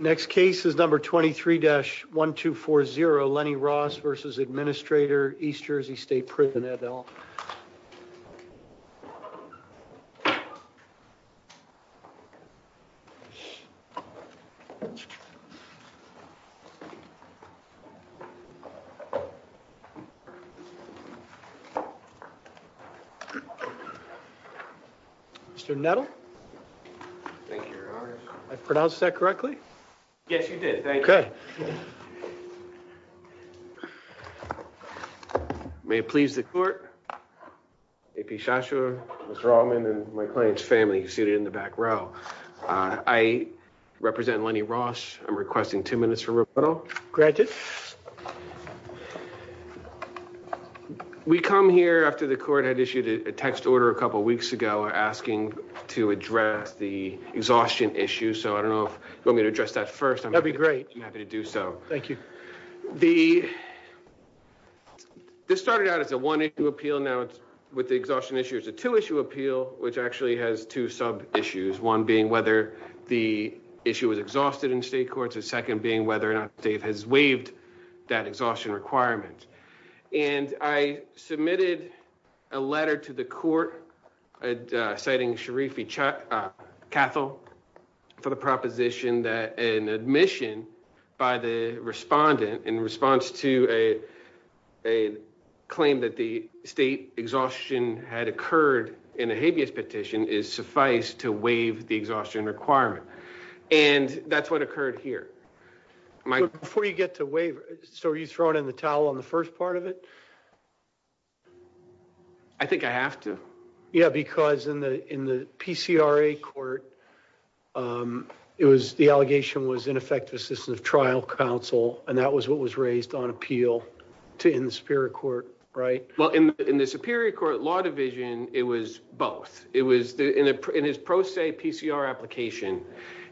Next case is number 23 dash 1 2 4 0 Lenny Ross versus administrator East Jersey State prison at all Next case is number 23 dash 1 2 4 0 Lenny Ross versus administrator East Jersey State prison at all Mr. Nettle? Thank you your honor. Did I pronounce that correctly? Yes you did. Thank you. Okay. May it please the court. AP Shashua, Mr. Allman and my client's family seated in the back row. I represent Lenny Ross, I'm requesting two minutes for rebuttal. Granted. We come here after the court had issued a text order a couple weeks ago asking to address the exhaustion issue so I don't know if you want me to address that first. That'd be great. I'm happy to do so. Thank you. The. This started out as a one issue appeal now it's with the exhaustion issues a two issue appeal, which actually has two sub issues one being whether the issue was exhausted in state courts and second being whether or not Dave has waived that exhaustion requirement. And I submitted a letter to the court, citing Sharifi chuck cathol for the proposition that an admission by the respondent in response to a claim that the state exhaustion had occurred in a habeas petition is suffice to waive the exhaustion requirement. And that's what occurred here. Before you get to waive. So are you throwing in the towel on the first part of it. I think I have to. Yeah, because in the, in the PCRA court. It was the allegation was ineffective system of trial counsel, and that was what was raised on appeal to in the spirit court. Right. Well, in the superior court law division, it was both. It was in his pro se PCR application.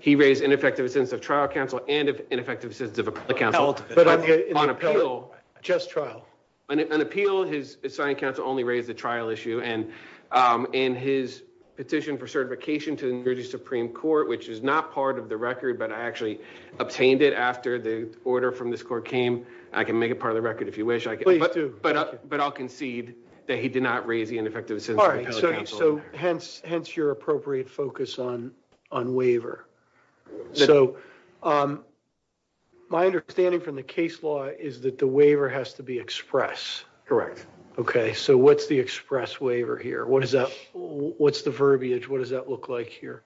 He raised ineffective sense of trial counsel and ineffective sense of the council, but on appeal, just trial and appeal his assigned counsel only raised the trial issue and in his petition for certification to the Supreme Court, which is not part of the record, but I actually obtained it after the order from this court came, I can make it part of the record if you wish I can, but I'll concede that he did not raise the ineffective. So, hence, hence your appropriate focus on on waiver. So, my understanding from the case law is that the waiver has to be express. Correct. Okay, so what's the express waiver here what is that. What's the verbiage what does that look like here.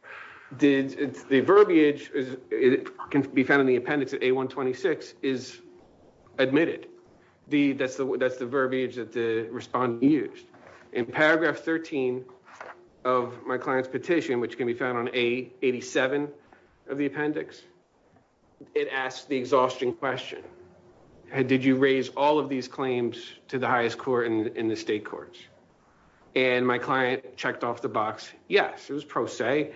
Did the verbiage is it can be found in the appendix at a 126 is admitted the that's the that's the verbiage that the respond use in paragraph 13 of my client's petition which can be found on a 87 of the appendix. It asked the exhaustion question. Did you raise all of these claims to the highest court in the state courts, and my client checked off the box. Yes, it was pro se.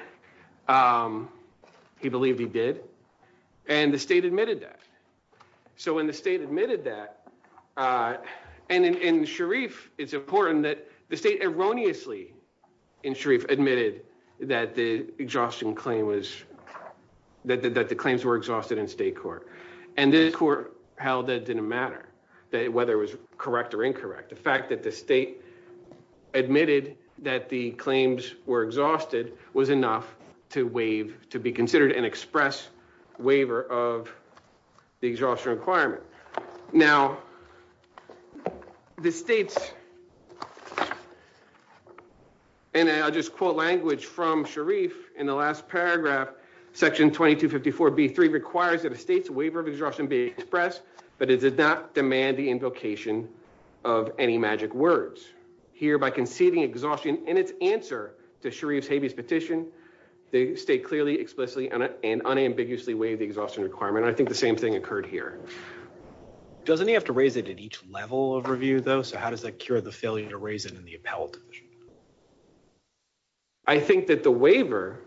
He believed he did. And the state admitted that. So when the state admitted that. And in Sharif, it's important that the state erroneously in Sharif admitted that the exhaustion claim was that the claims were exhausted in state court, and the court held that didn't matter that whether it was correct or incorrect the fact that the state admitted that the claims were exhausted was enough to wave to be considered an express waiver of the exhaustion requirement. Now, the states. And I'll just quote language from Sharif, in the last paragraph, section 2254 be three requires that the state's waiver of exhaustion be expressed, but it did not demand the invocation of any magic words here by conceding exhaustion in its answer to Sharif's habeas petition. The state clearly explicitly and unambiguously wave the exhaustion requirement I think the same thing occurred here. Doesn't he have to raise it at each level of review though so how does that cure the failure to raise it in the appellate. I think that the waiver.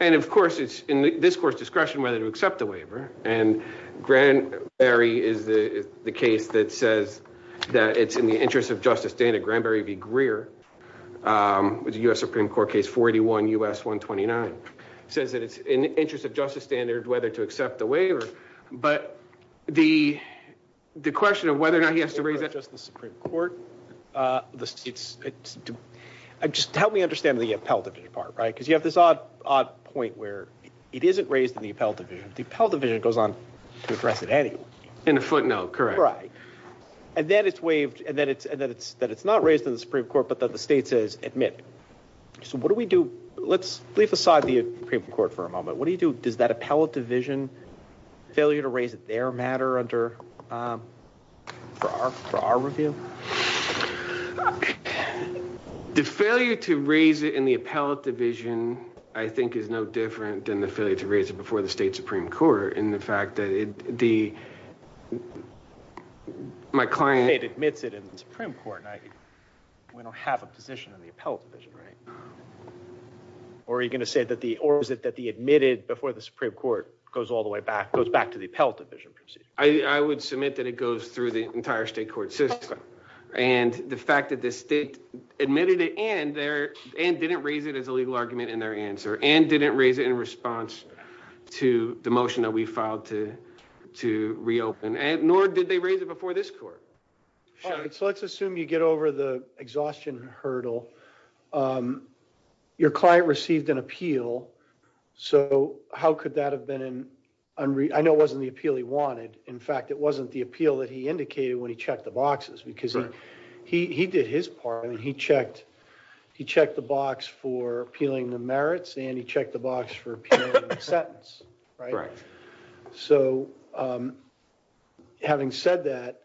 And of course it's in this course discretion whether to accept the waiver and grant Barry is the case that says that it's in the interest of justice data Granberry be Greer was US Supreme Court case 41 us 129 says that it's in the interest of justice standard whether to accept the waiver, but the, the question of whether or not he has to raise that just the Supreme Court. The states. Just help me understand the appellate department right because you have this odd, odd point where it isn't raised in the appellate division, the appellate division goes on to address it any in a footnote correctly. And then it's waived and then it's that it's that it's not raised in the Supreme Court but that the state says, admit. So what do we do, let's leave aside the Supreme Court for a moment, what do you do, does that appellate division failure to raise their matter under for our, for our review. The failure to raise it in the appellate division, I think is no different than the failure to raise it before the state Supreme Court and the fact that it, the, my client it admits it in the Supreme Court night. We don't have a position in the appellate division right. Or are you going to say that the or is it that the admitted before the Supreme Court goes all the way back goes back to the appellate division. I would submit that it goes through the entire state court system. And the fact that the state admitted it and there, and didn't raise it as a legal argument in their answer and didn't raise it in response to the motion that we filed to to reopen and nor did they raise it before this court. So let's assume you get over the exhaustion hurdle. Your client received an appeal. So, how could that have been an unread I know wasn't the appeal he wanted. In fact, it wasn't the appeal that he indicated when he checked the boxes because he did his part and he checked. He checked the box for appealing the merits and he checked the box for a sentence. Right. So, having said that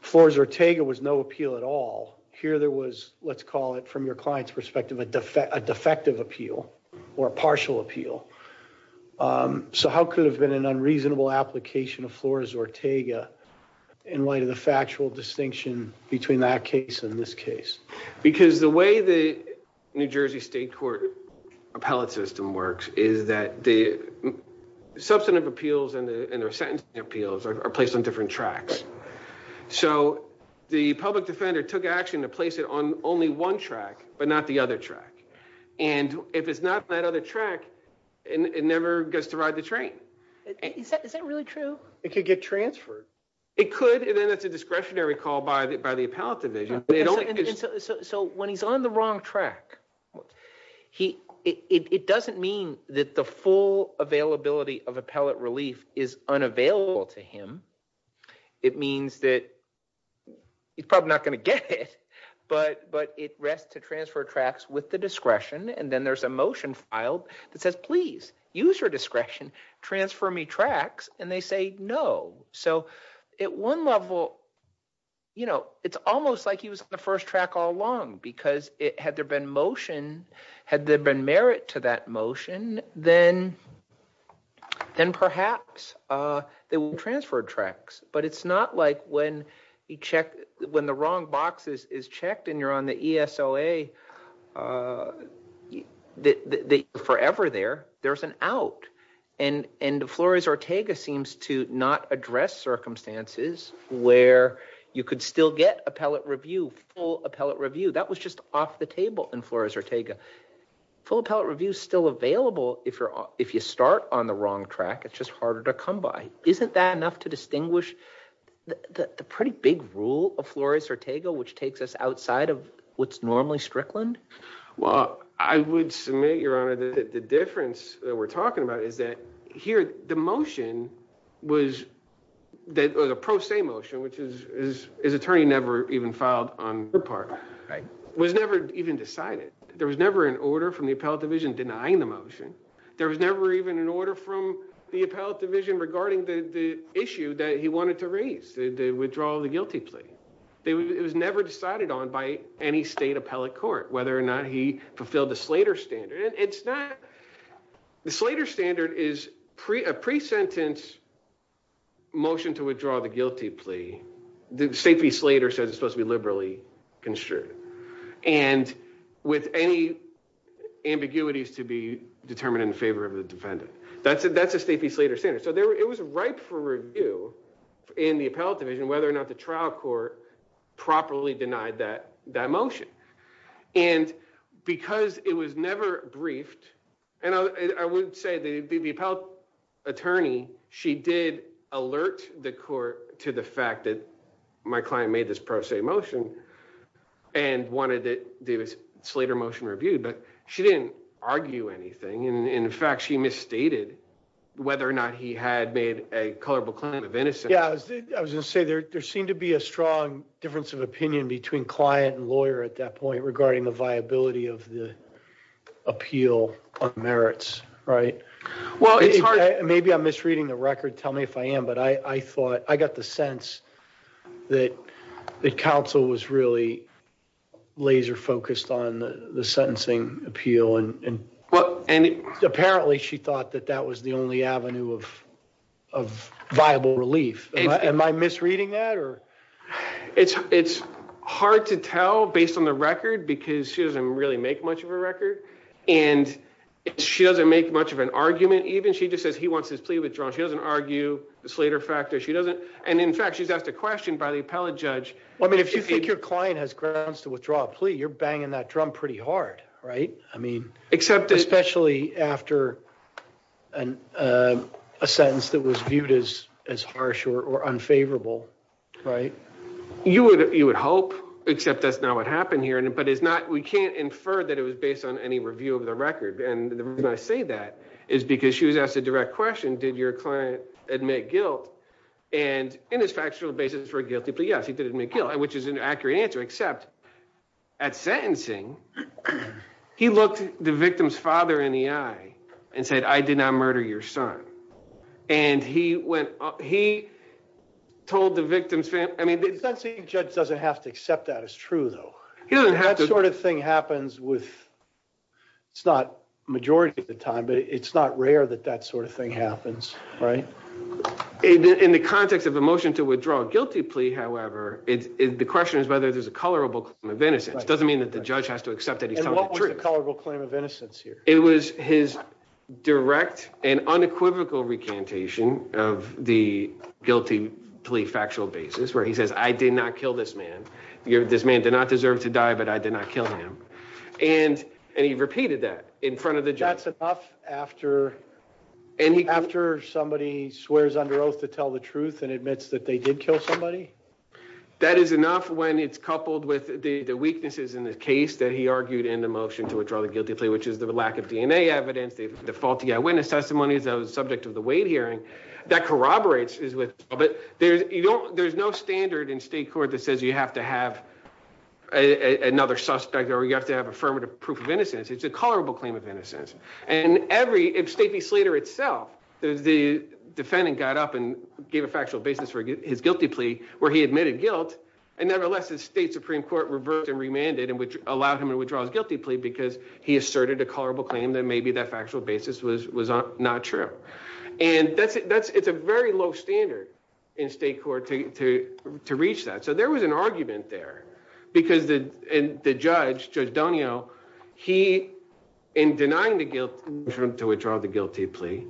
floors or Tega was no appeal at all. Here there was, let's call it from your clients perspective a defect a defective appeal or partial appeal. So how could have been an unreasonable application of floors or Tega in light of the factual distinction between that case in this case, because the way the New Jersey State Court appellate system works, is that the substantive appeals and their sentence appeals are placed on different tracks. So, the public defender took action to place it on only one track, but not the other track. And if it's not that other track, and it never gets to ride the train. Is that really true, it could get transferred. It could and then it's a discretionary call by the by the appellate division. So, when he's on the wrong track. He, it doesn't mean that the full availability of appellate relief is unavailable to him. It means that he's probably not going to get it, but but it rests to transfer tracks with the discretion and then there's a motion file that says please use your discretion transfer me tracks, and they say no. So, at one level, you know, it's almost like he was the first track all along because it had there been motion. Had there been merit to that motion, then, then perhaps they will transfer tracks, but it's not like when you check when the wrong boxes is checked and you're on the ESO a that forever there, there's an out and and Flores Ortega seems to not address circumstances where you could still get appellate review full appellate review that was just off the table and Flores Ortega full appellate review still available if you're, if you start on the wrong track it's just harder to come by. Isn't that enough to distinguish the pretty big rule of Flores Ortega which takes us outside of what's normally Strickland. Well, I would submit your honor the difference that we're talking about is that here, the motion was that was a pro se motion which is his attorney never even filed on her part was never even decided, there was never an order from the appellate division denying the motion. There was never even an order from the appellate division regarding the issue that he wanted to raise the withdrawal of the guilty plea. It was never decided on by any state appellate court, whether or not he fulfilled the Slater standard it's not the Slater standard is pre a pre sentence motion to withdraw the guilty plea, the safety Slater says it's supposed to be liberally construed and with any ambiguities to be determined in favor of the defendant. That's it that's a safety Slater center so there it was right for review in the appellate division whether or not the trial court properly denied that that motion. And because it was never briefed, and I would say they'd be the appellate attorney, she did alert the court to the fact that my client made this pro se motion and wanted it Davis Slater motion reviewed but she didn't argue anything and in fact she misstated, whether or not he had made a colorable claim of innocence. Yeah, I was gonna say there, there seemed to be a strong difference of opinion between client and lawyer at that point regarding the viability of the appeal on merits, right. Well, maybe I'm misreading the record tell me if I am but I thought I got the sense that the council was really laser focused on the sentencing appeal and. Well, and apparently she thought that that was the only avenue of of viable relief, and my misreading that or it's, it's hard to tell based on the record because she doesn't really make much of a record, and she doesn't make much of an argument even she just says he wants his plea withdrawn she doesn't argue the Slater factor she doesn't, and in fact she's asked a question by the appellate judge. Well, I mean if you think your client has grounds to withdraw plea you're banging that drum pretty hard. Right. I mean, except especially after a sentence that was viewed as as harsh or unfavorable. Right, you would, you would hope, except that's not what happened here and it but it's not we can't infer that it was based on any review of the record and the reason I say that is because she was asked a direct question did your client admit guilt. And in his factual basis for guilty plea yes he did admit guilt and which is an accurate answer except at sentencing. He looked the victim's father in the eye and said I did not murder your son. And he went, he told the victim's family, I mean the judge doesn't have to accept that it's true, though, you don't have that sort of thing happens with. It's not majority of the time but it's not rare that that sort of thing happens right in the context of emotion to withdraw guilty plea however it's the question is whether there's a color of a book of innocence doesn't mean that the judge has to accept it. And what was the color will claim of innocence here, it was his direct and unequivocal recantation of the guilty plea factual basis where he says I did not kill this man. You're this man did not deserve to die but I did not kill him. And, and he repeated that in front of the job after any after somebody swears under oath to tell the truth and admits that they did kill somebody. That is enough when it's coupled with the weaknesses in the case that he argued in the motion to withdraw the guilty plea which is the lack of DNA evidence they default to get witness testimonies that was subject to the weight hearing that corroborates is with, but there's, you know, there's no standard in state court that says you have to have another suspect or you have to have affirmative proof of innocence, it's a colorable claim of innocence, and every state the Slater itself. The defendant got up and gave a factual basis for his guilty plea, where he admitted guilt, and nevertheless the state Supreme Court reversed and remanded and which allowed him to withdraw his guilty plea because he asserted a colorable claim that maybe that factual basis was was not true. And that's it that's it's a very low standard in state court to to to reach that so there was an argument there, because the, and the judge judge Daniel, he in denying the guilt to withdraw the guilty plea.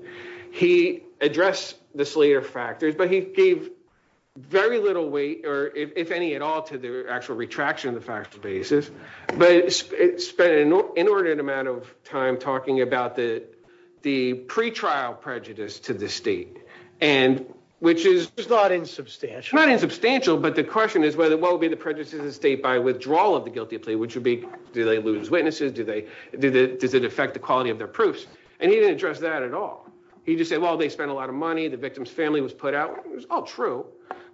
And which is not insubstantial not insubstantial but the question is whether what would be the prejudices of state by withdrawal of the guilty plea which would be do they lose witnesses do they do that does it affect the quality of their proofs and he didn't address that at all. He just said well they spent a lot of money the victim's family was put out was all true,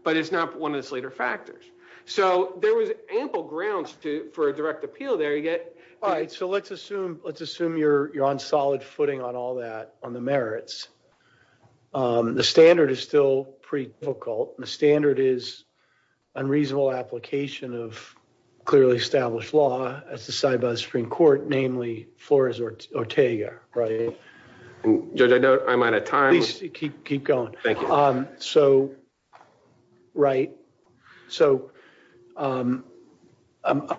but it's not one of the Slater factors. So, there was ample grounds to for a direct appeal there you get. All right, so let's assume, let's assume you're on solid footing on all that on the merits. The standard is still pretty difficult and the standard is unreasonable application of clearly established law, as the side by the Supreme Court, namely, Flores Ortega, right. Judge I know I'm out of time, keep keep going. Thank you. So, right. So, I'm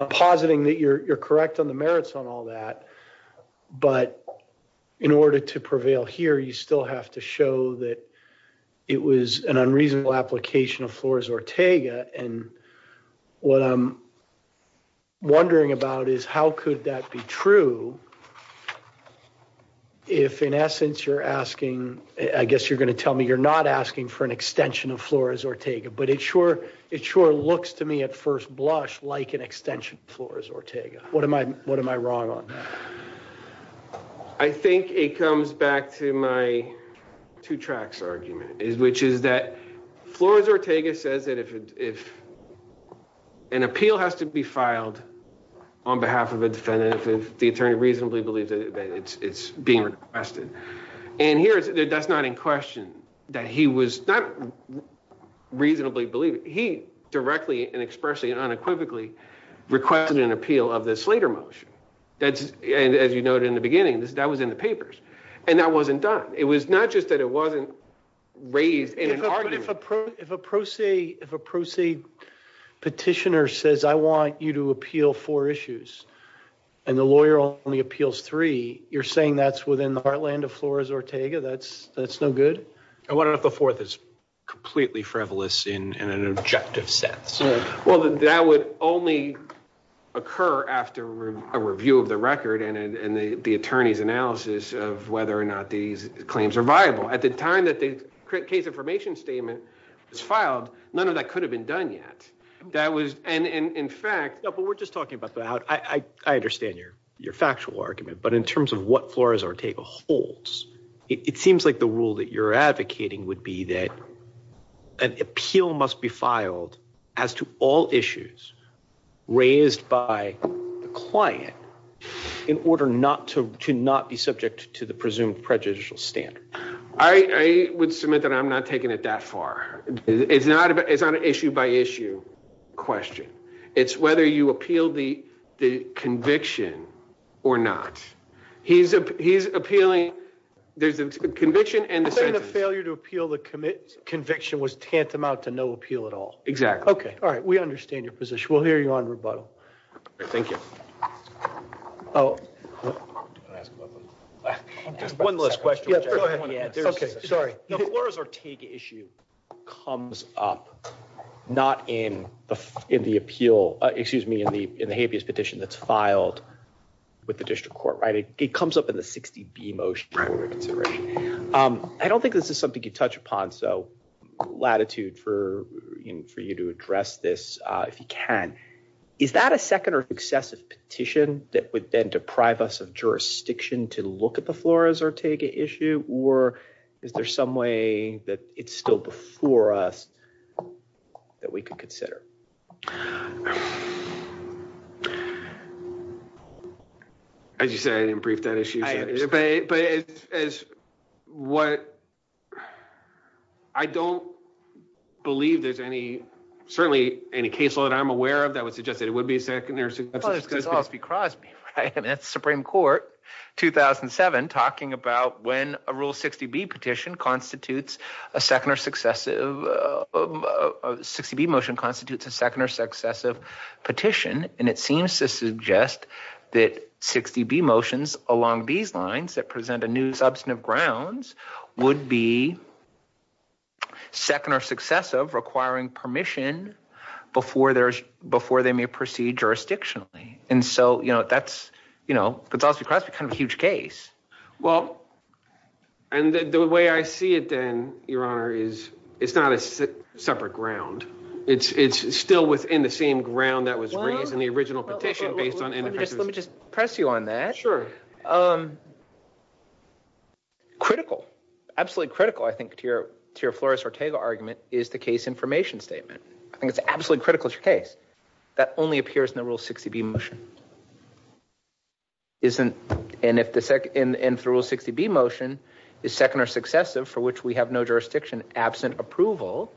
positing that you're correct on the merits on all that. But in order to prevail here you still have to show that it was an unreasonable application of Flores Ortega, and what I'm wondering about is how could that be true. So, if in essence you're asking, I guess you're going to tell me you're not asking for an extension of Flores Ortega but it sure it sure looks to me at first blush like an extension Flores Ortega, what am I, what am I wrong on. I think it comes back to my two tracks argument is which is that Flores Ortega says that if, if an appeal has to be filed on behalf of a defendant if the attorney reasonably believes that it's being requested. And here's that's not in question that he was not reasonably believe he directly and expressly and unequivocally requested an appeal of this later motion. That's, as you noted in the beginning this that was in the papers, and that wasn't done, it was not just that it wasn't raised in an argument. If a pro se, if a pro se petitioner says I want you to appeal for issues. And the lawyer only appeals three, you're saying that's within the heartland of Flores Ortega that's that's no good. I wonder if the fourth is completely frivolous in an objective sense. Well, that would only occur after a review of the record and the attorneys analysis of whether or not these claims are viable at the time that the case information statement is filed, none of that could have been done yet. That was, and in fact, but we're just talking about that I understand your, your factual argument but in terms of what Flores Ortega holds, it seems like the rule that you're advocating would be that an appeal must be filed as to all issues, raised by the client, in order not to not be subject to the presumed prejudicial standard. I would submit that I'm not taking it that far. It's not, it's not an issue by issue question. It's whether you appeal the conviction, or not, he's, he's appealing. There's a conviction and the failure to appeal the commit conviction was tantamount to no appeal at all. Exactly. Okay. All right, we understand your position will hear you on rebuttal. Thank you. Oh, one last question. Okay, sorry. Flores Ortega issue comes up. Not in the, in the appeal, excuse me in the, in the habeas petition that's filed with the district court right it comes up in the 60 be motion. I don't think this is something you touch upon so latitude for you for you to address this, if you can. Is that a second or excessive petition that would then deprive us of jurisdiction to look at the Flores Ortega issue, or is there some way that it's still before us that we could consider. Okay. As you say in brief that issue. What I don't believe there's any certainly any caseload I'm aware of that would suggest that it would be second or because because the Supreme Court, 2007 talking about when a rule 60 be petitioned constitutes a second or successive 60 be motion constitutes a second or successive petition, and it seems to suggest that 60 be motions, along these lines that present a new substantive grounds would be second or successive requiring permission before there's before they may proceed jurisdiction. And so, you know, that's, you know, that's also kind of a huge case. Well, and the way I see it, then, Your Honor is, it's not a separate ground. It's still within the same ground that was raised in the original petition based on just let me just press you on that. Sure. I'm critical, absolutely critical I think to your, to your Flores Ortega argument is the case information statement. I think it's absolutely critical to case that only appears in the rule 60 be motion isn't. And if the SEC in through 60 be motion is second or successive for which we have no jurisdiction absent approval,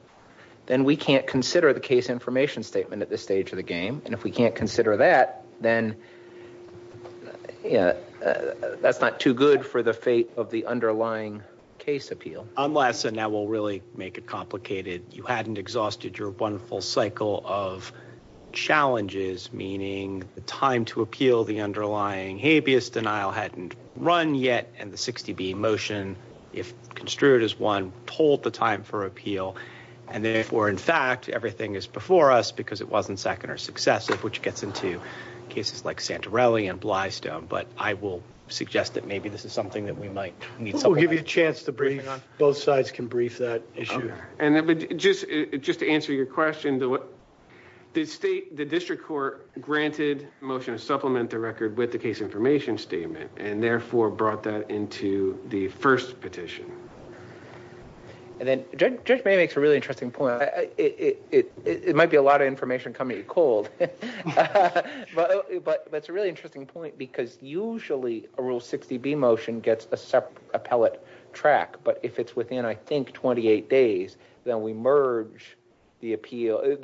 then we can't consider the case information statement at this stage of the game, and if we can't consider that, then, you know, that's not too good for the fate of the underlying case appeal unless and that will really make it complicated. You hadn't exhausted your wonderful cycle of challenges, meaning the time to appeal the underlying habeas denial hadn't run yet and the 60 be motion. If construed as one told the time for appeal. And therefore, in fact, everything is before us because it wasn't second or successive which gets into cases like Santorelli and Blystone but I will suggest that maybe this is something that we might need. We'll give you a chance to bring on both sides can brief that issue. And just, just to answer your question to what the state, the district court granted motion to supplement the record with the case information statement, and therefore brought that into the first petition. And then judge makes a really interesting point, it might be a lot of information coming cold. But, but that's a really interesting point because usually a rule 60 be motion gets a separate appellate track but if it's within I think 28 days, then we merge the appeal,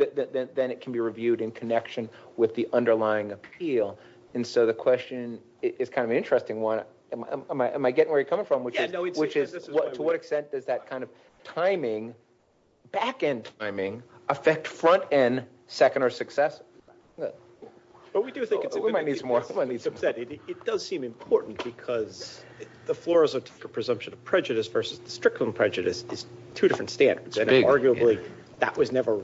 then it can be reviewed in connection with the underlying appeal. And so the question is kind of an interesting one. Am I getting where you're coming from, which is, which is what to what extent does that kind of timing back end timing affect front end second or success. But we do think it's more money subsidy, it does seem important because the floor is a presumption of prejudice versus the strickling prejudice is two different standards and arguably, that was never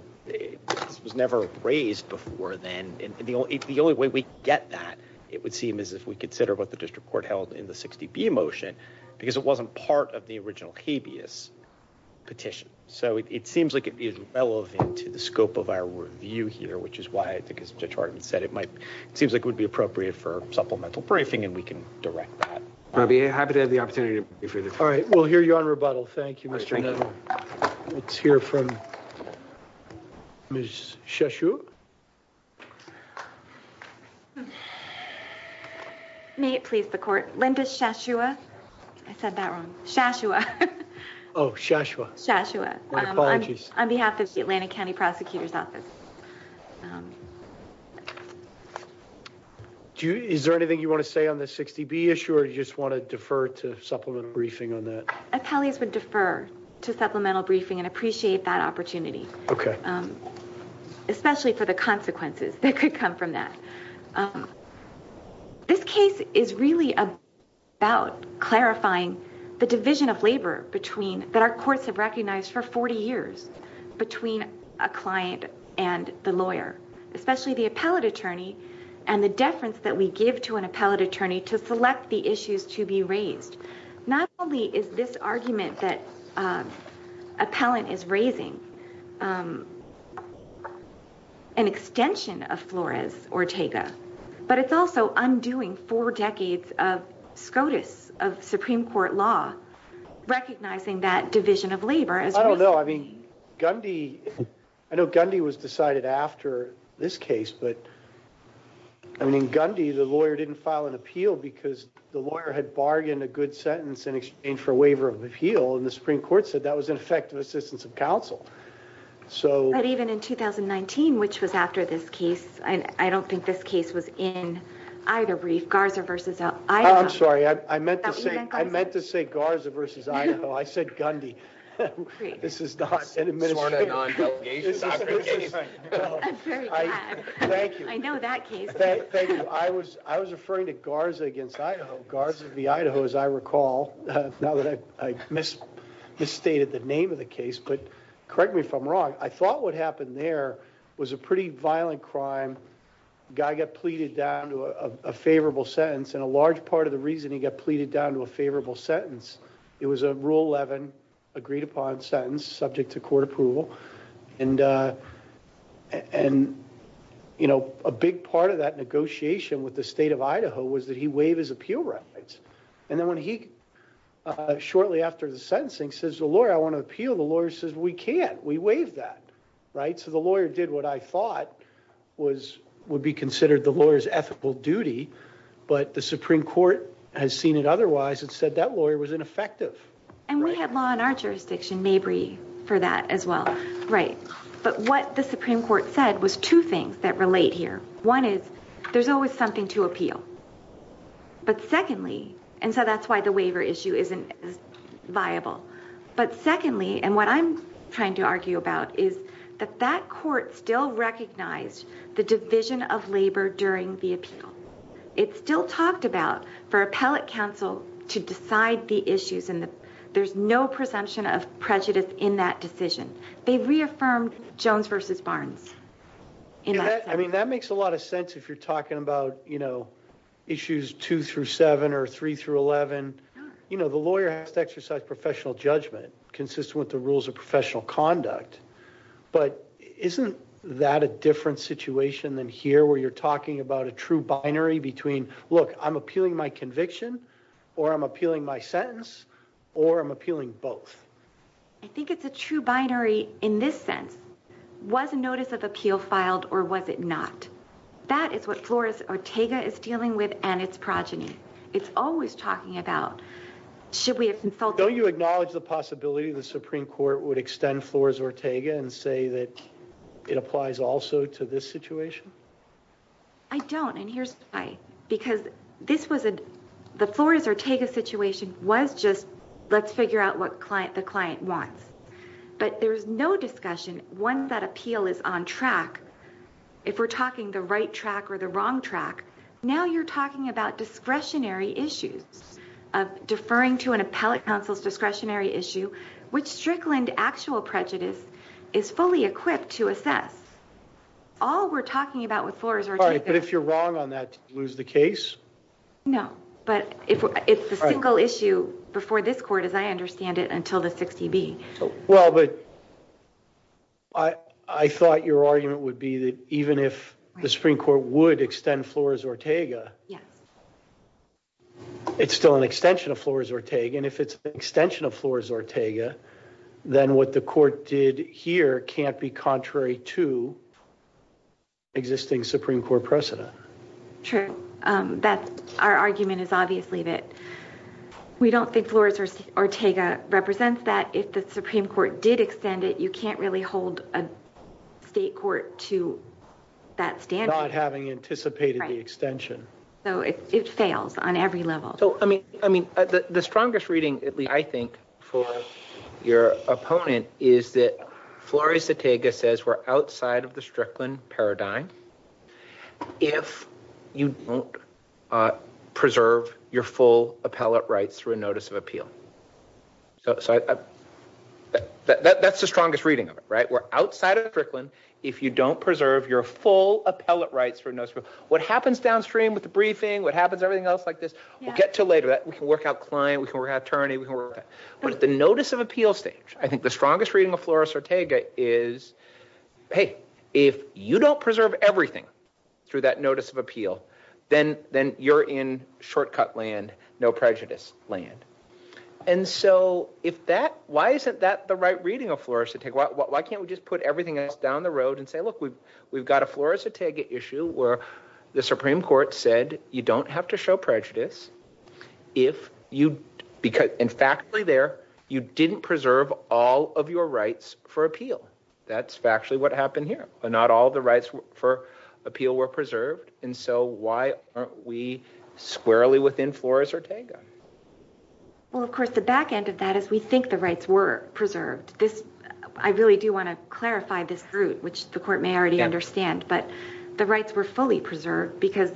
was never raised before then, and the only the only way we get that, it would seem as if we consider what the district court held in the 60 be motion, because it wasn't part of the original habeas petition, so it seems like it is relevant to the scope of our review here which is why. I think it's Detroit and said it might seems like would be appropriate for supplemental briefing and we can direct that. I'd be happy to have the opportunity for you. All right, we'll hear you on rebuttal. Thank you. Mr. Let's hear from. Sure. May it please the court, Linda Shashua. I said that wrong Shashua Shashua Shashua apologies on behalf of the Atlanta County Prosecutor's Office. Do you, is there anything you want to say on this 60 be assured you just want to defer to supplement briefing on that. Okay. Especially for the consequences that could come from that. This case is really about clarifying the division of labor between that our courts have recognized for 40 years between a client, and the lawyer, especially the appellate attorney, and the difference that we give to an appellate attorney to select the issues to be raised. Not only is this argument that appellant is raising an extension of Flores Ortega, but it's also undoing four decades of SCOTUS of Supreme Court law, recognizing that division of labor as well. No, I mean, Gundy. I know Gundy was decided after this case but I mean Gundy the lawyer didn't file an appeal because the lawyer had bargained a good sentence in exchange for waiver of appeal and the Supreme Court said that was an effective assistance of counsel. So, even in 2019 which was after this case, I don't think this case was in either brief Garza versus. I'm sorry, I meant to say Garza versus Idaho. I said Gundy. This is not an administrative. I'm very glad. I know that case. Thank you. I was referring to Garza against Idaho. Garza v. Idaho, as I recall, now that I misstated the name of the case, but correct me if I'm wrong, I thought what happened there was a pretty violent crime. A guy got pleaded down to a favorable sentence and a large part of the reasoning got pleaded down to a favorable sentence. It was a rule 11 agreed upon sentence subject to court approval and, you know, a big part of that negotiation with the state of Idaho was that he waived his appeal rights. And then when he, shortly after the sentencing, says, I want to appeal, the lawyer says, we can't. We waived that. So the lawyer did what I thought would be considered the lawyer's ethical duty, but the Supreme Court has seen it otherwise and said that lawyer was ineffective. And we have law in our jurisdiction, maybe, for that as well. But what the Supreme Court said was two things that relate here. One is there's always something to appeal. But secondly, and so that's why the waiver issue isn't viable. But secondly, and what I'm trying to argue about is that that court still recognized the division of labor during the appeal. It's still talked about for appellate counsel to decide the issues and there's no presumption of prejudice in that decision. They reaffirmed Jones v. Barnes. I mean, that makes a lot of sense if you're talking about, you know, issues 2 through 7 or 3 through 11. You know, the lawyer has to exercise professional judgment consistent with the rules of professional conduct. But isn't that a different situation than here where you're talking about a true binary between, look, I'm appealing my conviction or I'm appealing my sentence or I'm appealing both? I think it's a true binary in this sense. Was a notice of appeal filed or was it not? That is what Flores-Ortega is dealing with and its progeny. It's always talking about should we have consulted? Don't you acknowledge the possibility the Supreme Court would extend Flores-Ortega and say that it applies also to this situation? I don't, and here's why. Because this was a – the Flores-Ortega situation was just let's figure out what the client wants. But there's no discussion once that appeal is on track, if we're talking the right track or the wrong track. Now you're talking about discretionary issues of deferring to an appellate counsel's discretionary issue, which Strickland actual prejudice is fully equipped to assess. All we're talking about with Flores-Ortega – All right, but if you're wrong on that, do you lose the case? No, but it's the single issue before this court, as I understand it, until the 60B. Well, but I thought your argument would be that even if the Supreme Court would extend Flores-Ortega, it's still an extension of Flores-Ortega. And if it's an extension of Flores-Ortega, then what the court did here can't be contrary to existing Supreme Court precedent. True. That's – our argument is obviously that we don't think Flores-Ortega represents that. If the Supreme Court did extend it, you can't really hold a state court to that standard. Not having anticipated the extension. So it fails on every level. So, I mean, the strongest reading, at least I think, for your opponent is that Flores-Ortega says we're outside of the Strickland paradigm if you don't preserve your full appellate rights through a notice of appeal. So that's the strongest reading of it, right? We're outside of Strickland if you don't preserve your full appellate rights through a notice of appeal. So what happens downstream with the briefing, what happens to everything else like this, we'll get to later. We can work out client, we can work out attorney. But at the notice of appeal stage, I think the strongest reading of Flores-Ortega is, hey, if you don't preserve everything through that notice of appeal, then you're in shortcut land, no prejudice land. And so if that, why isn't that the right reading of Flores-Ortega? Why can't we just put everything else down the road and say, look, we've got a Flores-Ortega issue where the Supreme Court said you don't have to show prejudice if you, in factly there, you didn't preserve all of your rights for appeal. That's factually what happened here. Not all the rights for appeal were preserved. And so why aren't we squarely within Flores-Ortega? Well, of course, the back end of that is we think the rights were preserved. I really do want to clarify this route, which the court may already understand. But the rights were fully preserved because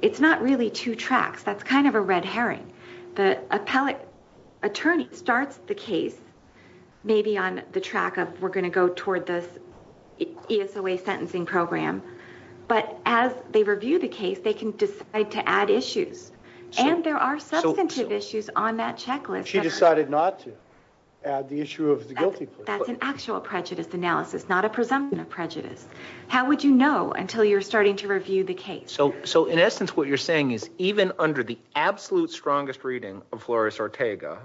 it's not really two tracks. That's kind of a red herring. The appellate attorney starts the case maybe on the track of we're going to go toward this ESOA sentencing program. But as they review the case, they can decide to add issues. And there are substantive issues on that checklist. She decided not to add the issue of the guilty plea. That's an actual prejudice analysis, not a presumption of prejudice. How would you know until you're starting to review the case? So in essence what you're saying is even under the absolute strongest reading of Flores-Ortega,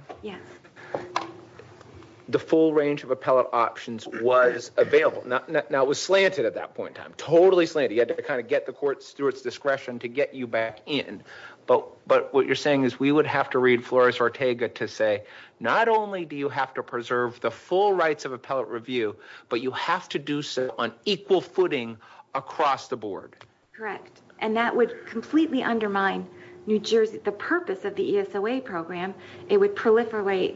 the full range of appellate options was available. Now it was slanted at that point in time, totally slanted. You had to kind of get the courts through its discretion to get you back in. But what you're saying is we would have to read Flores-Ortega to say, not only do you have to preserve the full rights of appellate review, but you have to do so on equal footing across the board. Correct. And that would completely undermine the purpose of the ESOA program. It would proliferate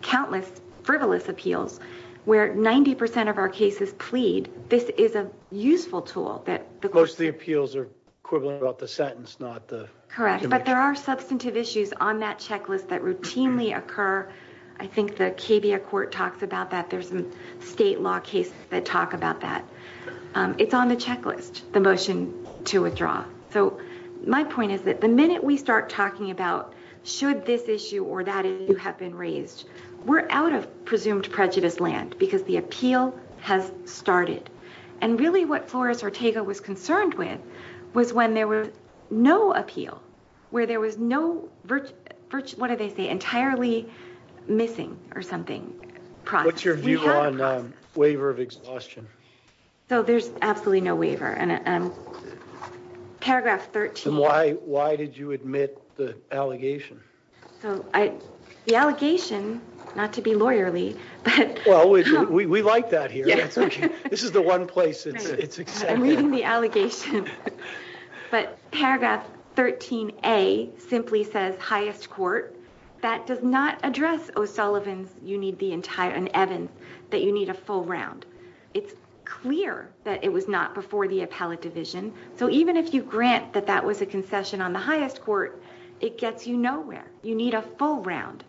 countless frivolous appeals where 90% of our cases plead. This is a useful tool. Most of the appeals are equivalent about the sentence, not the conviction. Correct. But there are substantive issues on that checklist that routinely occur. I think the KBIA court talks about that. There's some state law cases that talk about that. It's on the checklist, the motion to withdraw. So my point is that the minute we start talking about should this issue or that issue have been raised, we're out of presumed prejudice land because the appeal has started. And really what Flores-Ortega was concerned with was when there was no appeal, where there was no, what do they say, entirely missing or something. What's your view on waiver of exhaustion? So there's absolutely no waiver. Paragraph 13. Why did you admit the allegation? The allegation, not to be lawyerly. Well, we like that here. This is the one place it's accepted. I'm reading the allegation. But paragraph 13A simply says highest court. That does not address O'Sullivan's, Evans, that you need a full round. It's clear that it was not before the appellate division. So even if you grant that that was a concession on the highest court, it gets you nowhere. You need a full round.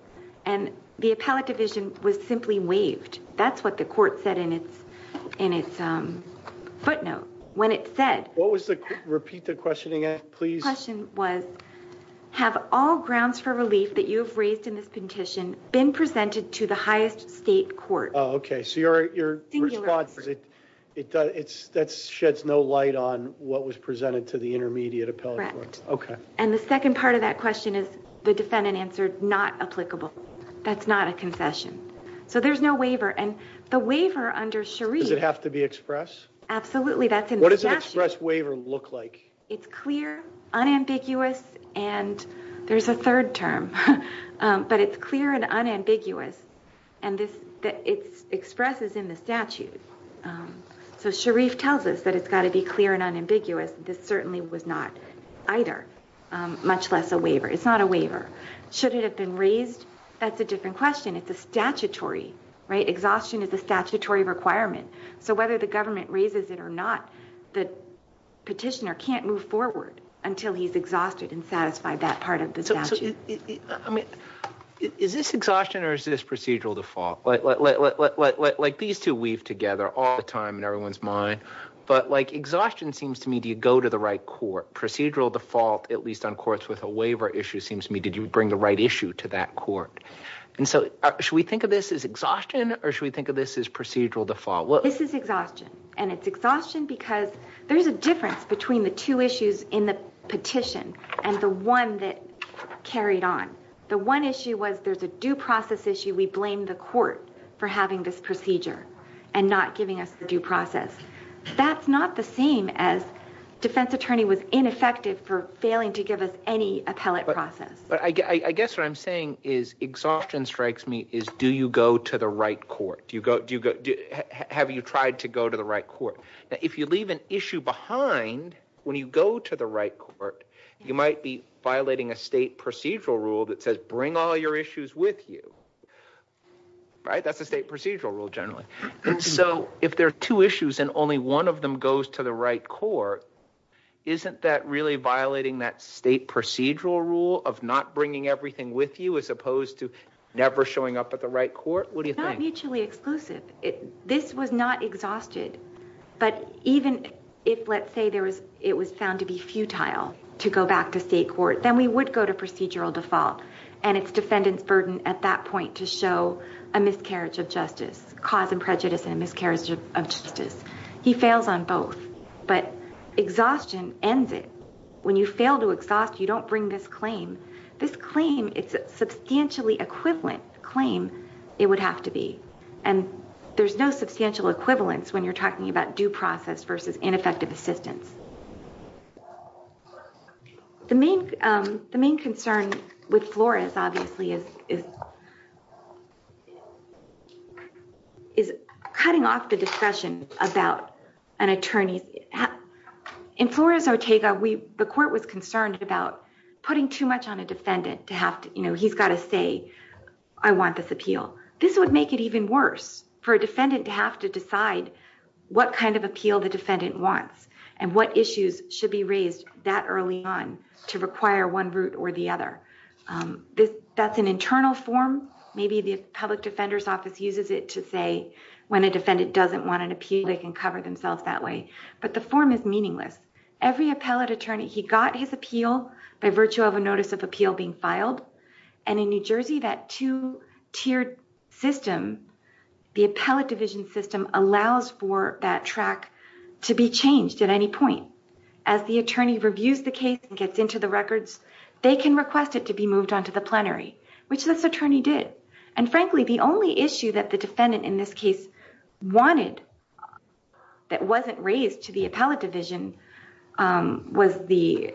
And the appellate division was simply waived. That's what the court said in its footnote. When it said. Repeat the questioning, please. My question was, have all grounds for relief that you've raised in this petition been presented to the highest state court? Okay. So your response, it's that sheds no light on what was presented to the intermediate appellate court. Okay. And the second part of that question is the defendant answered not applicable. That's not a concession. So there's no waiver. And the waiver under Sharif. Does it have to be express? Absolutely. That's in the statute. What does an express waiver look like? It's clear, unambiguous, and there's a third term. But it's clear and unambiguous. And it expresses in the statute. So Sharif tells us that it's got to be clear and unambiguous. This certainly was not either, much less a waiver. It's not a waiver. Should it have been raised? That's a different question. It's a statutory, right? Exhaustion is a statutory requirement. So whether the government raises it or not, the petitioner can't move forward until he's exhausted and satisfied that part of the statute. I mean, is this exhaustion or is this procedural default? Like, these two weave together all the time in everyone's mind. But, like, exhaustion seems to me, do you go to the right court? Procedural default, at least on courts with a waiver issue, seems to me, did you bring the right issue to that court? And so should we think of this as exhaustion or should we think of this as procedural default? This is exhaustion. And it's exhaustion because there's a difference between the two issues in the petition and the one that carried on. The one issue was there's a due process issue. We blame the court for having this procedure and not giving us the due process. That's not the same as defense attorney was ineffective for failing to give us any appellate process. I guess what I'm saying is exhaustion strikes me as do you go to the right court? Have you tried to go to the right court? Now, if you leave an issue behind when you go to the right court, you might be violating a state procedural rule that says bring all your issues with you. That's a state procedural rule generally. And so if there are two issues and only one of them goes to the right court, isn't that really violating that state procedural rule of not bringing everything with you as opposed to never showing up at the right court? What do you think? It's not mutually exclusive. This was not exhausted. But even if, let's say, it was found to be futile to go back to state court, then we would go to procedural default. And it's defendant's burden at that point to show a miscarriage of justice, cause and prejudice and a miscarriage of justice. He fails on both. But exhaustion ends it. When you fail to exhaust, you don't bring this claim. This claim, it's a substantially equivalent claim it would have to be. And there's no substantial equivalence when you're talking about due process versus ineffective assistance. The main concern with Flores, obviously, is cutting off the discussion about an attorney. In Flores-Ortega, the court was concerned about putting too much on a defendant. He's got to say, I want this appeal. This would make it even worse for a defendant to have to decide what kind of appeal the defendant wants and what issues should be raised that early on to require one route or the other. That's an internal form. Maybe the public defender's office uses it to say when a defendant doesn't want an appeal, they can cover themselves that way. But the form is meaningless. Every appellate attorney, he got his appeal by virtue of a notice of appeal being filed. And in New Jersey, that two-tiered system, the appellate division system, allows for that track to be changed at any point. As the attorney reviews the case and gets into the records, they can request it to be moved onto the plenary, which this attorney did. And frankly, the only issue that the defendant in this case wanted that wasn't raised to the appellate division was the,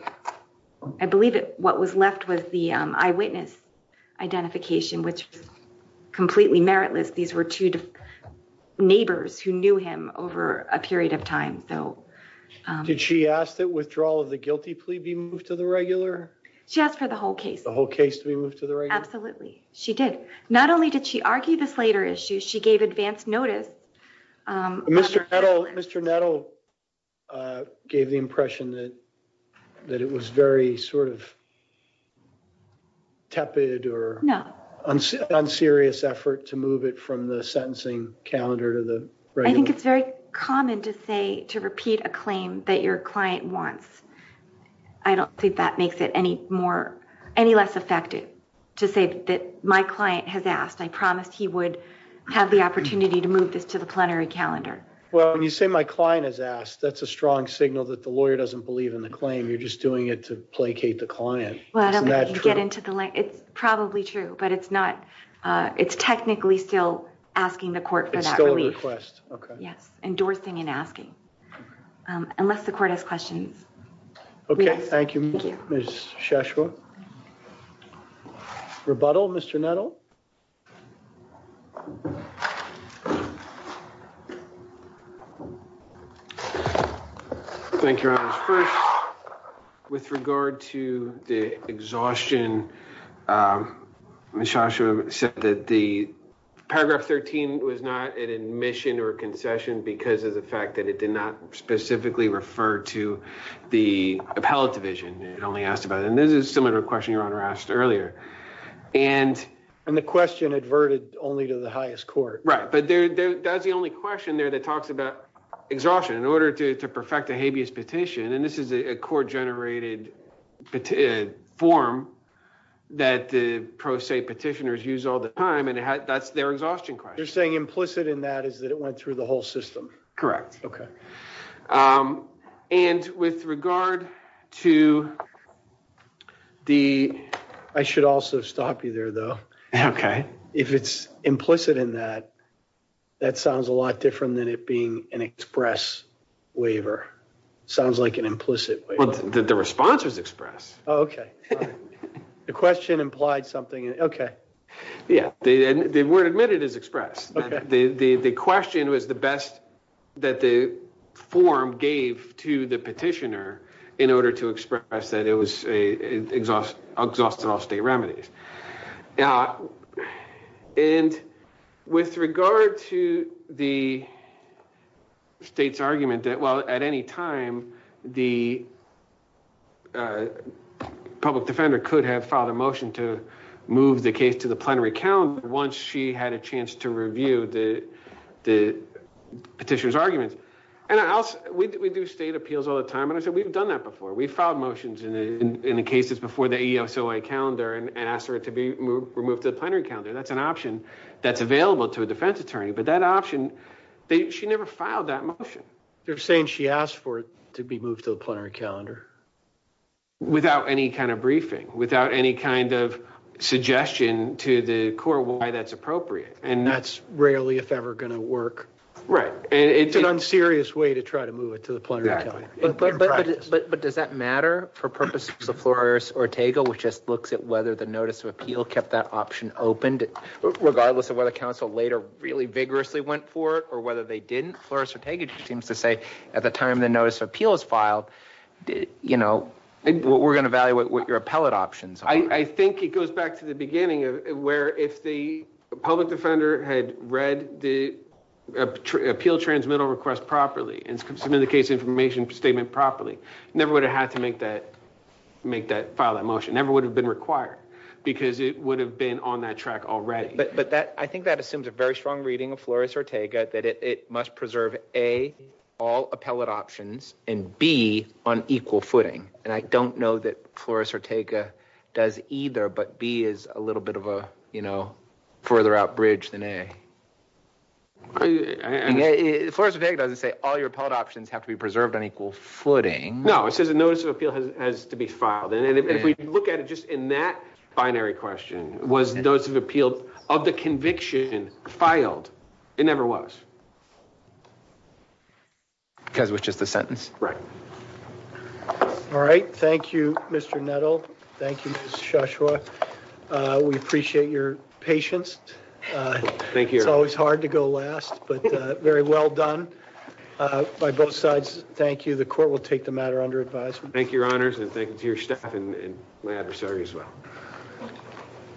I believe what was left was the eyewitness identification, which was completely meritless. These were two neighbors who knew him over a period of time. Did she ask that withdrawal of the guilty plea be moved to the regular? She asked for the whole case. The whole case to be moved to the regular? Absolutely. She did. Not only did she argue this later issue, she gave advance notice. Mr. Nettle gave the impression that it was very sort of tepid or unserious effort to move it from the sentencing calendar to the regular. I think it's very common to say, to repeat a claim that your client wants. I don't think that makes it any more, any less effective to say that my client has asked. I promised he would have the opportunity to move this to the plenary calendar. Well, when you say my client has asked, that's a strong signal that the lawyer doesn't believe in the claim. You're just doing it to placate the client. It's probably true, but it's not, it's technically still asking the court for that relief. Yes, endorsing and asking. Unless the court has questions. Okay, thank you, Ms. Shashua. Rebuttal, Mr. Nettle? Thank you, Your Honor. First, with regard to the exhaustion, Ms. Shashua said that the paragraph 13 was not an admission or a concession because of the fact that it did not specifically refer to the appellate division. It only asked about, and this is similar to a question Your Honor asked earlier. And the question adverted only to the highest court. Right, but that's the only question there that talks about exhaustion in order to perfect a habeas petition. And this is a court-generated form that the pro se petitioners use all the time, and that's their exhaustion question. You're saying implicit in that is that it went through the whole system? Correct. Okay. And with regard to the... I should also stop you there, though. Okay. If it's implicit in that, that sounds a lot different than it being an express waiver. Sounds like an implicit waiver. The response was express. Oh, okay. The question implied something. Okay. Yeah. They weren't admitted as express. The question was the best that the form gave to the petitioner in order to express that it was exhausted all state remedies. And with regard to the state's argument that, well, at any time, the public defender could have filed a motion to move the case to the plenary calendar once she had a chance to review the petitioner's argument. We do state appeals all the time, and I said we've done that before. We've filed motions in the cases before the ASOA calendar and asked for it to be removed to the plenary calendar. That's an option that's available to a defense attorney. But that option, she never filed that motion. You're saying she asked for it to be moved to the plenary calendar? Without any kind of briefing, without any kind of suggestion to the court why that's appropriate. And that's rarely, if ever, going to work. Right. It's an unserious way to try to move it to the plenary calendar. But does that matter for purposes of Flores-Ortega, which just looks at whether the notice of appeal kept that option opened, regardless of whether counsel later really vigorously went for it or whether they didn't? Flores-Ortega just seems to say at the time the notice of appeal was filed, you know, we're going to evaluate what your appellate options are. I think it goes back to the beginning where if the public defender had read the appeal transmittal request properly and submitted the case information statement properly, never would have had to file that motion. Never would have been required because it would have been on that track already. But I think that assumes a very strong reading of Flores-Ortega that it must preserve A, all appellate options, and B, on equal footing. And I don't know that Flores-Ortega does either, but B is a little bit of a, you know, further out bridge than A. Flores-Ortega doesn't say all your appellate options have to be preserved on equal footing. No, it says a notice of appeal has to be filed. And if we look at it just in that binary question, was notice of appeal of the conviction filed? It never was. Because it was just a sentence? Right. All right. Thank you, Mr. Nettle. Thank you, Ms. Shoshua. We appreciate your patience. Thank you. It's always hard to go last, but very well done by both sides. Thank you. The court will take the matter under advisement. Thank you, Your Honors, and thank you to your staff and my adversary as well.